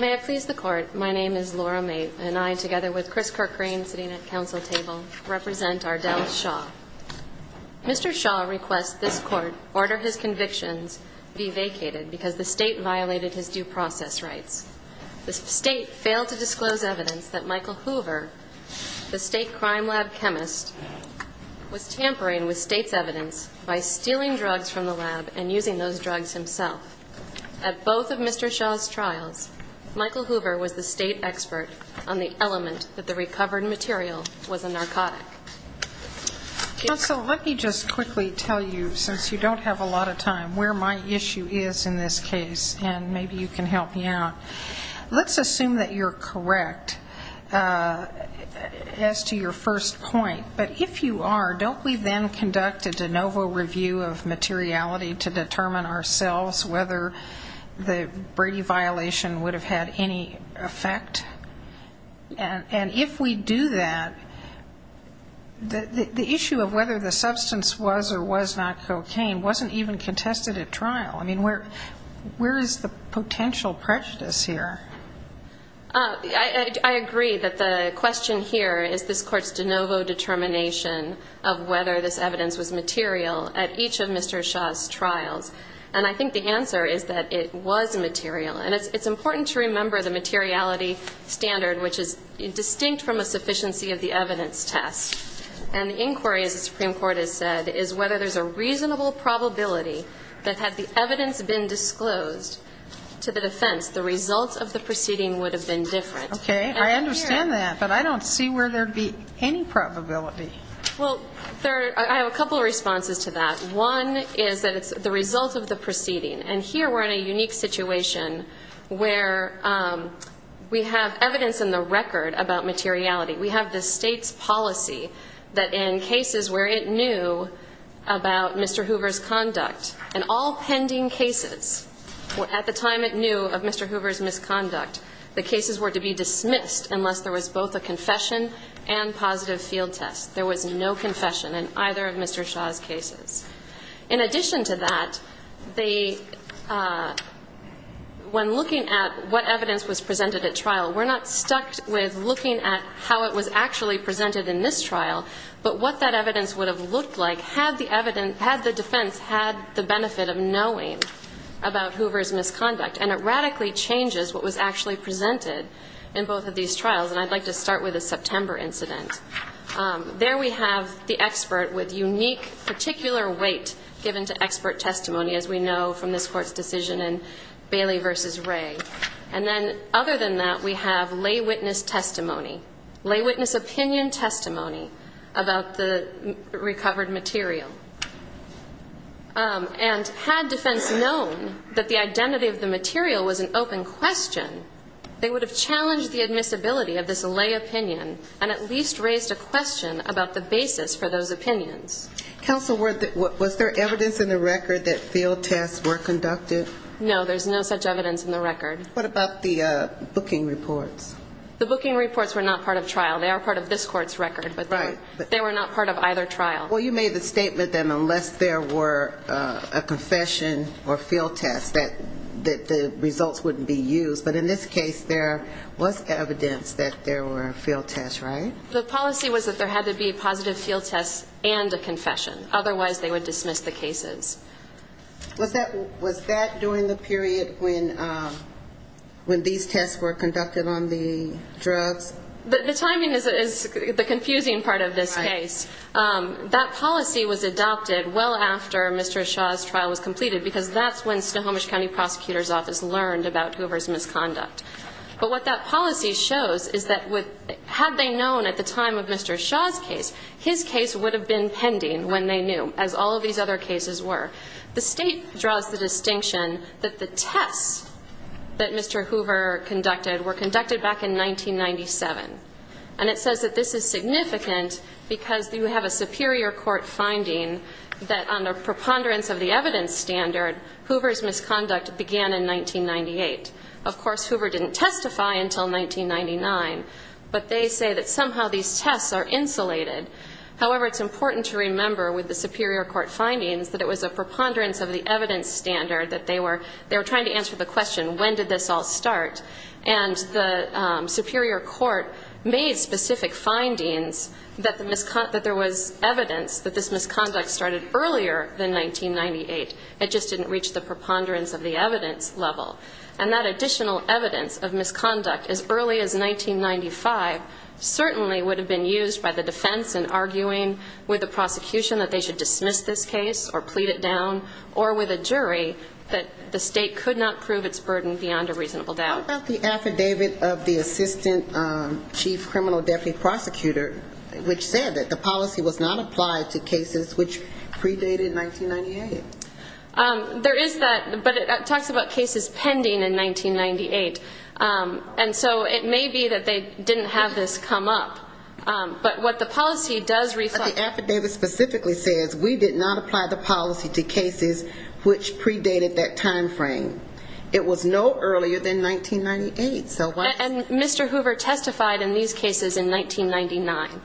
May I please the court, my name is Laura May and I together with Chris Kirkrain sitting at council table represent Ardell Shaw. Mr. Shaw requests this court order his convictions be vacated because the state violated his due process rights. The state failed to disclose evidence that Michael Hoover, the state crime lab chemist, was tampering with state's evidence by stealing drugs from the lab and using those drugs himself. At both of Mr. Shaw's trials, Michael Hoover was the state expert on the element that the recovered material was a narcotic. Counsel, let me just quickly tell you, since you don't have a lot of time, where my issue is in this case and maybe you can help me out. Let's assume that you're correct as to your first point, but if you are, don't we then conduct a de novo review of materiality to determine ourselves whether the Brady violation would have had any effect? And if we do that, the issue of whether the substance was or was not cocaine wasn't even contested at trial. I mean, where is the potential prejudice here? I agree that the question here is this court's de novo determination of whether this evidence was material at each of Mr. Shaw's trials. And I think the answer is that it was material. And it's important to remember the materiality standard, which is distinct from a sufficiency of the evidence test. And the inquiry, as the Supreme Court has said, is whether there's a reasonable probability that had the evidence been disclosed to the defense, the results of the proceeding would have been different. Okay, I understand that, but I don't see where there'd be any probability. Well, I have a couple of responses to that. One is that it's the result of the proceeding. And here we're in a unique situation where we have evidence in the record about materiality. We have the state's policy that in cases where it knew about Mr. Hoover's conduct, in all pending cases, at the time it knew of Mr. Hoover's misconduct, the cases were to be dismissed unless there was both a confession and positive field test. There was no confession in either of Mr. Shaw's cases. In addition to that, when looking at what evidence was presented at trial, we're not stuck with looking at how it was actually presented in this trial, but what that evidence would have looked like had the defense had the benefit of knowing about Hoover's misconduct. And it radically changes what was actually presented in both of these trials. And I'd like to start with the September incident. There we have the expert with unique particular weight given to expert testimony, as we know from this Court's decision in Bailey v. Ray. And then other than that, we have lay witness testimony, lay witness opinion testimony about the recovered material. And had defense known that the identity of the material was an open question, they would have challenged the admissibility of this lay opinion and at least raised a question about the basis for those opinions. Counsel, was there evidence in the record that field tests were conducted? No, there's no such evidence in the record. What about the booking reports? The booking reports were not part of trial. They are part of this Court's record, but they were not part of either trial. Well, you made the statement that unless there were a confession or field test, that the results wouldn't be used. But in this case, there was evidence that there were field tests, right? The policy was that there had to be a positive field test and a confession. Otherwise, they would dismiss the cases. Was that during the period when these tests were conducted on the drugs? The timing is the confusing part of this case. That policy was adopted well after Mr. Shaw's trial was completed because that's when Snohomish County Prosecutor's Office learned about Hoover's misconduct. But what that policy shows is that had they known at the time of Mr. Shaw's case, his case would have been pending when they knew, as all of these other cases were. The State draws the distinction that the tests that Mr. Hoover conducted were conducted back in 1997. And it says that this is significant because you have a superior court finding that under preponderance of the evidence standard, Hoover's misconduct began in 1998. Of course, Hoover didn't testify until 1999, but they say that somehow these tests are insulated. However, it's important to remember with the superior court findings that it was a preponderance of the evidence standard that they were trying to answer the question, when did this all start? And the superior court made specific findings that there was evidence that this misconduct started earlier than 1998. It just didn't reach the preponderance of the evidence level. And that additional evidence of misconduct as early as 1995 certainly would have been used by the defense in arguing with the prosecution that they should dismiss this case or plead it down, or with a jury, that the State could not prove its burden beyond a reasonable doubt. How about the affidavit of the assistant chief criminal deputy prosecutor, which said that the policy was not applied to cases which predated 1998? There is that, but it talks about cases pending in 1998. And so it may be that they didn't have this come up. But what the policy does reflect... But the affidavit specifically says we did not apply the policy to cases which predated that time frame. It was no earlier than 1998. And Mr. Hoover testified in these cases in 1999.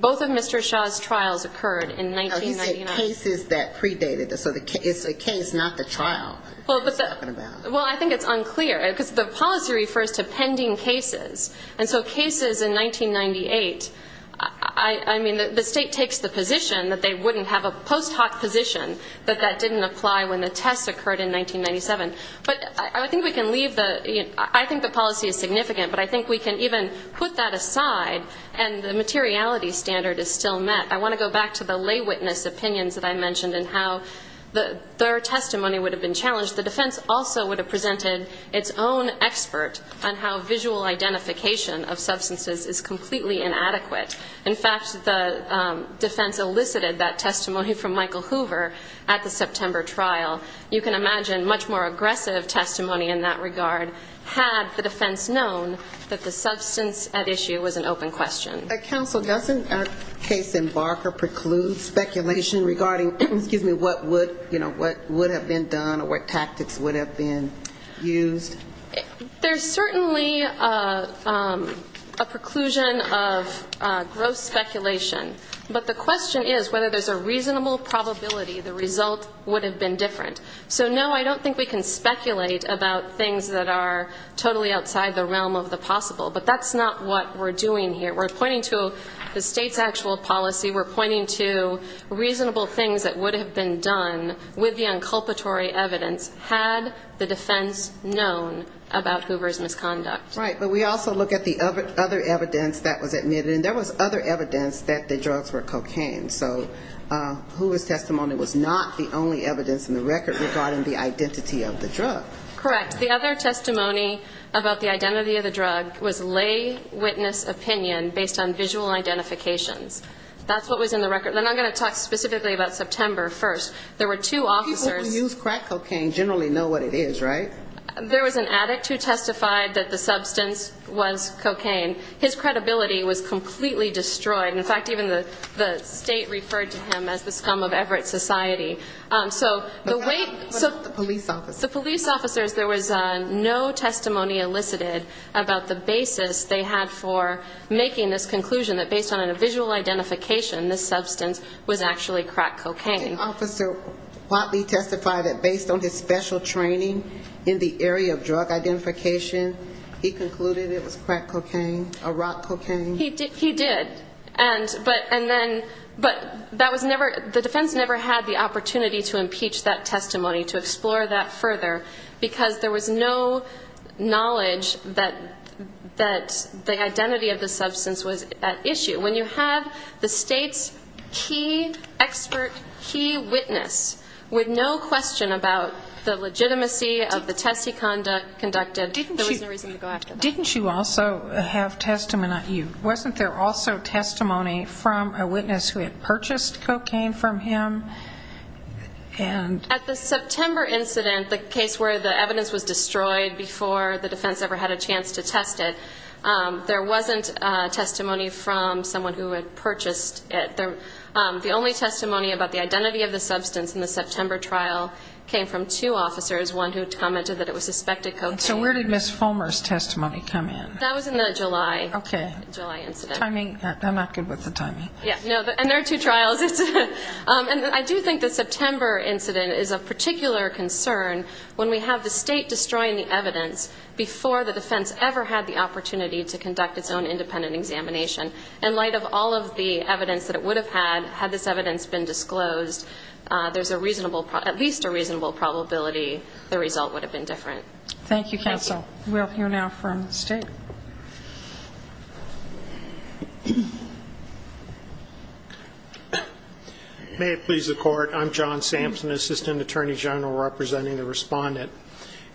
Both of Mr. Shaw's trials occurred in 1999. No, he said cases that predated. So it's a case, not the trial. Well, I think it's unclear, because the policy refers to pending cases. And so cases in 1998, I mean, the State takes the position that they wouldn't have a post hoc position that that didn't apply when the tests occurred in 1997. But I think we can leave the... I think the policy is significant, but I think we can even put that aside and the materiality standard is still met. I want to go back to the lay witness opinions that I mentioned and how their testimony would have been challenged. The defense also would have presented its own expert on how visual identification of substances is completely inadequate. In fact, the defense elicited that testimony from Michael Hoover at the September trial. You can imagine much more aggressive testimony in that regard had the defense known that the substance at issue was an open question. Counsel, doesn't our case embark or preclude speculation regarding what would have been done or what tactics would have been used? There's certainly a preclusion of gross speculation. But the question is whether there's a reasonable probability the result would have been different. So, no, I don't think we can speculate about things that are totally outside the realm of the possible. But that's not what we're doing here. We're pointing to the state's actual policy. We're pointing to reasonable things that would have been done with the inculpatory evidence had the defense known about Hoover's misconduct. Right, but we also look at the other evidence that was admitted. And there was other evidence that the drugs were cocaine. So Hoover's testimony was not the only evidence in the record regarding the identity of the drug. Correct. The other testimony about the identity of the drug was lay witness opinion based on visual identifications. That's what was in the record. And I'm going to talk specifically about September 1st. There were two officers. People who use crack cocaine generally know what it is, right? There was an addict who testified that the substance was cocaine. His credibility was completely destroyed. In fact, even the state referred to him as the scum of Everett society. So the police officers, there was no testimony elicited about the basis they had for making this conclusion that based on a visual identification, this substance was actually crack cocaine. Did Officer Whatley testify that based on his special training in the area of drug identification, he concluded it was crack cocaine or rock cocaine? He did. But the defense never had the opportunity to impeach that testimony, to explore that further, because there was no knowledge that the identity of the substance was at issue. When you have the state's key expert, key witness, with no question about the legitimacy of the test he conducted, there was no reason to go after that. Didn't you also have testimony? Not you. Wasn't there also testimony from a witness who had purchased cocaine from him? At the September incident, the case where the evidence was destroyed before the defense ever had a chance to test it, there wasn't testimony from someone who had purchased it. The only testimony about the identity of the substance in the September trial came from two officers, one who commented that it was suspected cocaine. So where did Ms. Fulmer's testimony come in? That was in the July incident. Okay. Timing. I'm not good with the timing. Yeah. And there are two trials. And I do think the September incident is of particular concern when we have the state destroying the evidence before the defense ever had the opportunity to conduct its own independent examination. In light of all of the evidence that it would have had, had this evidence been disclosed, there's at least a reasonable probability the result would have been different. Thank you, counsel. We'll hear now from the State. May it please the Court. I'm John Sampson, Assistant Attorney General, representing the Respondent.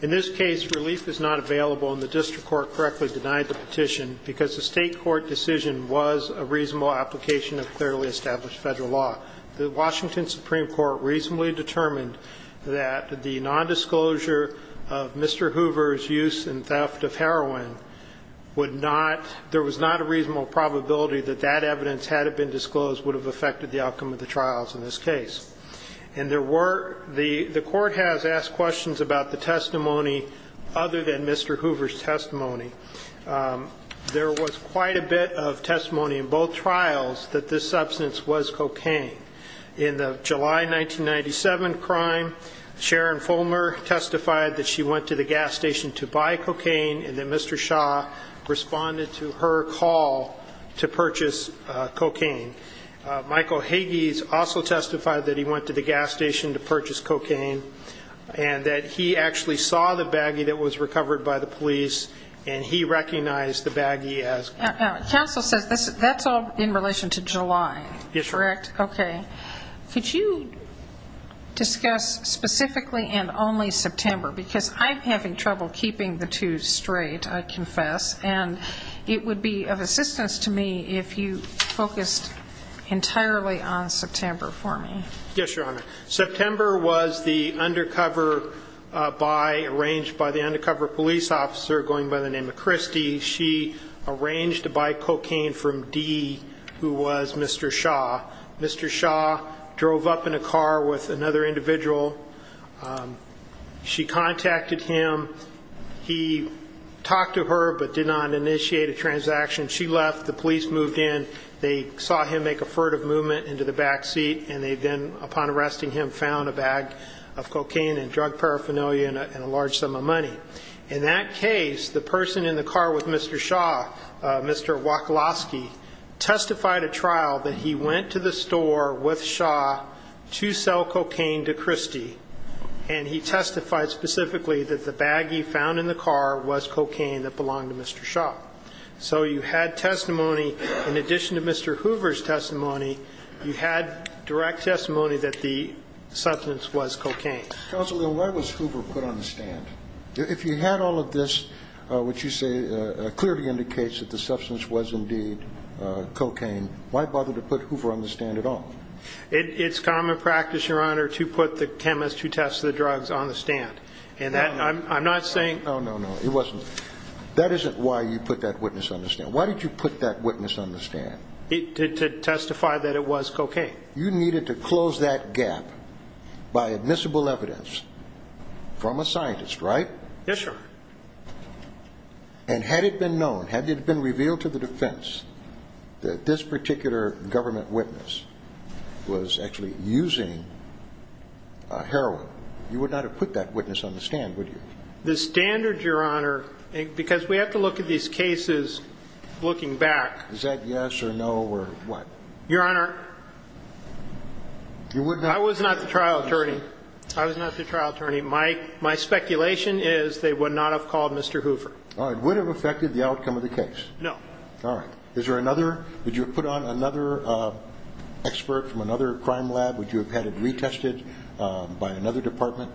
In this case, relief is not available and the district court correctly denied the petition because the State court decision was a reasonable application of clearly established federal law. The Washington Supreme Court reasonably determined that the nondisclosure of Mr. Hoover's use and theft of heroin would not – there was not a reasonable probability that that evidence, had it been disclosed, would have affected the outcome of the trials in this case. And there were – the court has asked questions about the testimony other than Mr. Hoover's testimony. There was quite a bit of testimony in both trials that this substance was cocaine. In the July 1997 crime, Sharon Fulmer testified that she went to the gas station to buy cocaine and that Mr. Shaw responded to her call to purchase cocaine. Michael Hagees also testified that he went to the gas station to purchase cocaine and that he actually saw the baggie that was recovered by the police and he recognized the baggie as cocaine. Counsel says that's all in relation to July. Yes, Your Honor. Okay. Could you discuss specifically and only September? Because I'm having trouble keeping the two straight, I confess, and it would be of assistance to me if you focused entirely on September for me. Yes, Your Honor. September was the undercover buy arranged by the undercover police officer going by the name of Christy. She arranged to buy cocaine from D, who was Mr. Shaw. Mr. Shaw drove up in a car with another individual. She contacted him. He talked to her but did not initiate a transaction. She left. The police moved in. They saw him make a furtive movement into the back seat, and they then, upon arresting him, found a bag of cocaine and drug paraphernalia and a large sum of money. In that case, the person in the car with Mr. Shaw, Mr. Waklosky, testified at trial that he went to the store with Shaw to sell cocaine to Christy, and he testified specifically that the baggie found in the car was cocaine that belonged to Mr. Shaw. So you had testimony. In addition to Mr. Hoover's testimony, you had direct testimony that the substance was cocaine. Counsel, why was Hoover put on the stand? If you had all of this, which you say clearly indicates that the substance was indeed cocaine, why bother to put Hoover on the stand at all? It's common practice, Your Honor, to put the chemist who tests the drugs on the stand. And I'm not saying no, no, no. It wasn't. That isn't why you put that witness on the stand. Why did you put that witness on the stand? To testify that it was cocaine. You needed to close that gap by admissible evidence from a scientist, right? Yes, sir. And had it been known, had it been revealed to the defense, that this particular government witness was actually using heroin, you would not have put that witness on the stand, would you? The standard, Your Honor, because we have to look at these cases looking back. Is that yes or no or what? Your Honor, I was not the trial attorney. I was not the trial attorney. My speculation is they would not have called Mr. Hoover. All right. Would it have affected the outcome of the case? No. All right. Is there another? Would you have put on another expert from another crime lab? Would you have had it retested by another department?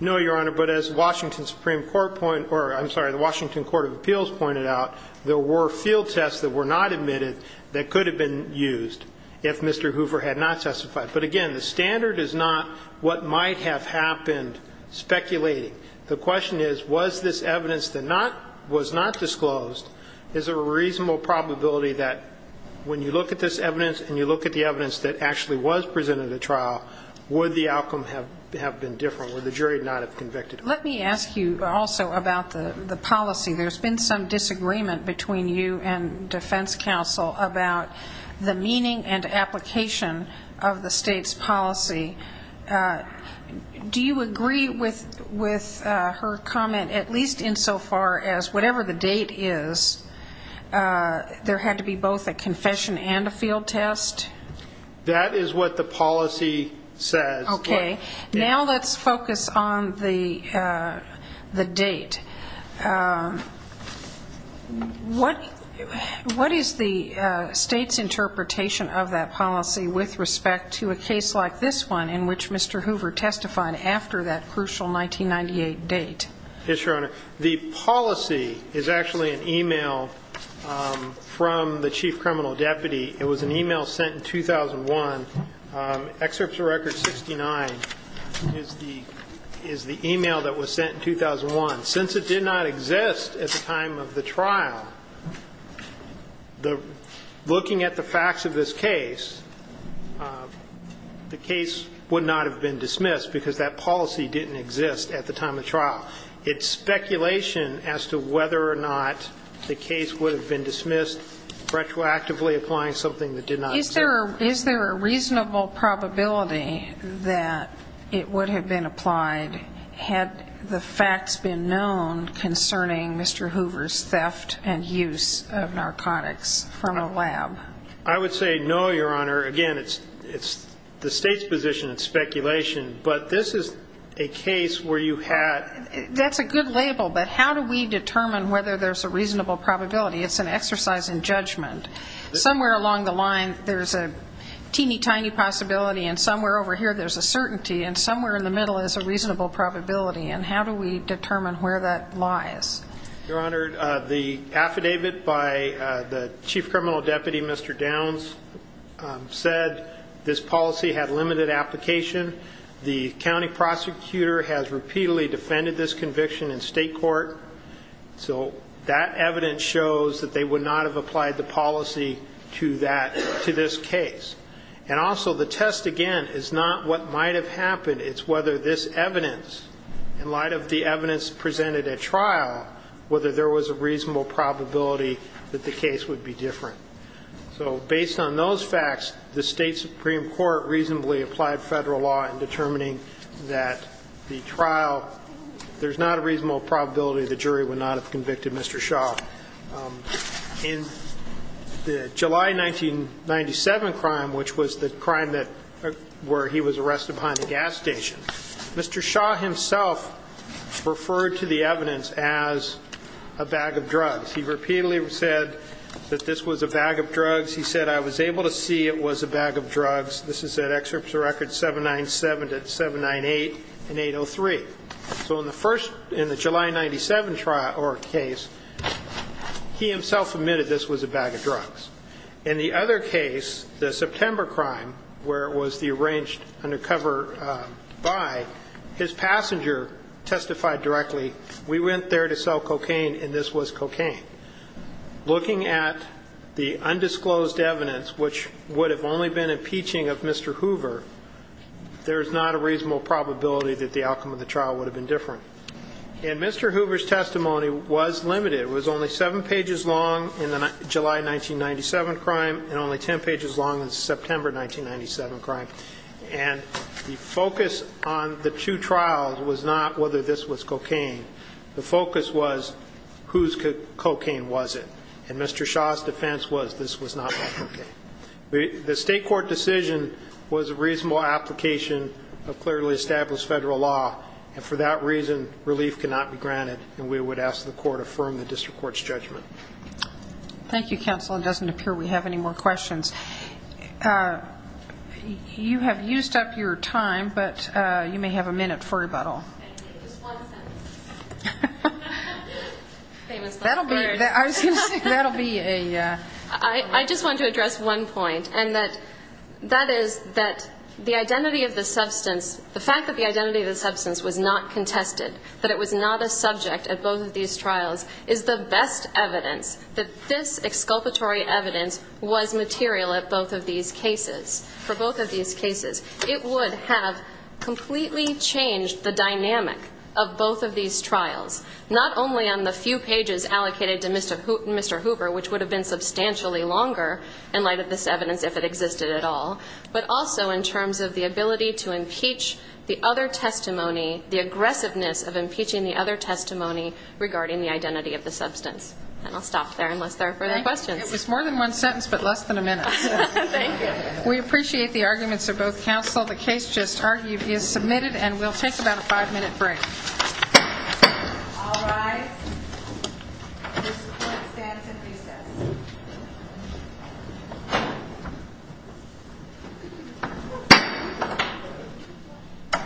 No, Your Honor, but as the Washington Supreme Court point or, I'm sorry, the Washington Court of Appeals pointed out, there were field tests that were not admitted that could have been used if Mr. Hoover had not testified. But, again, the standard is not what might have happened speculating. The question is, was this evidence that was not disclosed, is there a reasonable probability that when you look at this evidence and you look at the evidence that actually was presented at trial, would the outcome have been different? Would the jury not have convicted him? Let me ask you also about the policy. There's been some disagreement between you and defense counsel about the meaning and application of the state's policy. Do you agree with her comment, at least insofar as whatever the date is, there had to be both a confession and a field test? That is what the policy says. Okay. Now let's focus on the date. What is the state's interpretation of that policy with respect to a case like this one in which Mr. Hoover testified after that crucial 1998 date? Yes, Your Honor. The policy is actually an e-mail from the chief criminal deputy. It was an e-mail sent in 2001. Excerpts of record 69 is the e-mail that was sent in 2001. Since it did not exist at the time of the trial, looking at the facts of this case, the case would not have been dismissed because that policy didn't exist at the time of the trial. It's speculation as to whether or not the case would have been dismissed retroactively applying something that did not exist. Is there a reasonable probability that it would have been applied had the facts been known concerning Mr. Hoover's theft and use of narcotics from a lab? I would say no, Your Honor. Again, it's the state's position. It's speculation. But this is a case where you had ---- That's a good label. But how do we determine whether there's a reasonable probability? It's an exercise in judgment. Somewhere along the line there's a teeny tiny possibility, and somewhere over here there's a certainty, and somewhere in the middle is a reasonable probability. And how do we determine where that lies? Your Honor, the affidavit by the chief criminal deputy, Mr. Downs, said this policy had limited application. The county prosecutor has repeatedly defended this conviction in state court. So that evidence shows that they would not have applied the policy to this case. And also the test, again, is not what might have happened. It's whether this evidence, in light of the evidence presented at trial, whether there was a reasonable probability that the case would be different. So based on those facts, the state supreme court reasonably applied federal law in determining that the trial ---- there's not a reasonable probability the jury would not have convicted Mr. Shaw. In the July 1997 crime, which was the crime that ---- where he was arrested behind the gas station, Mr. Shaw himself referred to the evidence as a bag of drugs. He repeatedly said that this was a bag of drugs. He said, I was able to see it was a bag of drugs. This is at excerpts of records 797 to 798 and 803. So in the first ---- in the July 1997 trial or case, he himself admitted this was a bag of drugs. In the other case, the September crime, where it was the arranged undercover buy, his passenger testified directly, we went there to sell cocaine and this was cocaine. Looking at the undisclosed evidence, which would have only been impeaching of Mr. Hoover, there's not a reasonable probability that the outcome of the trial would have been different. And Mr. Hoover's testimony was limited. It was only seven pages long in the July 1997 crime and only ten pages long in the September 1997 crime. And the focus on the two trials was not whether this was cocaine. The focus was whose cocaine was it. And Mr. Shaw's defense was this was not cocaine. The state court decision was a reasonable application of clearly established federal law. And for that reason, relief cannot be granted. And we would ask the court to affirm the district court's judgment. Thank you, counsel. It doesn't appear we have any more questions. You have used up your time, but you may have a minute for rebuttal. I just want to address one point, and that is that the identity of the substance the fact that the identity of the substance was not contested, that it was not a subject at both of these trials, is the best evidence that this exculpatory evidence was material at both of these cases. For both of these cases, it would have completely changed the dynamics of the trial. of both of these trials, not only on the few pages allocated to Mr. Hoover, which would have been substantially longer in light of this evidence if it existed at all, but also in terms of the ability to impeach the other testimony, the aggressiveness of impeaching the other testimony regarding the identity of the substance. And I'll stop there unless there are further questions. It was more than one sentence but less than a minute. Thank you. We appreciate the arguments of both counsel. The case just argued is submitted, and we'll take about a five-minute break. All rise. This court stands in recess.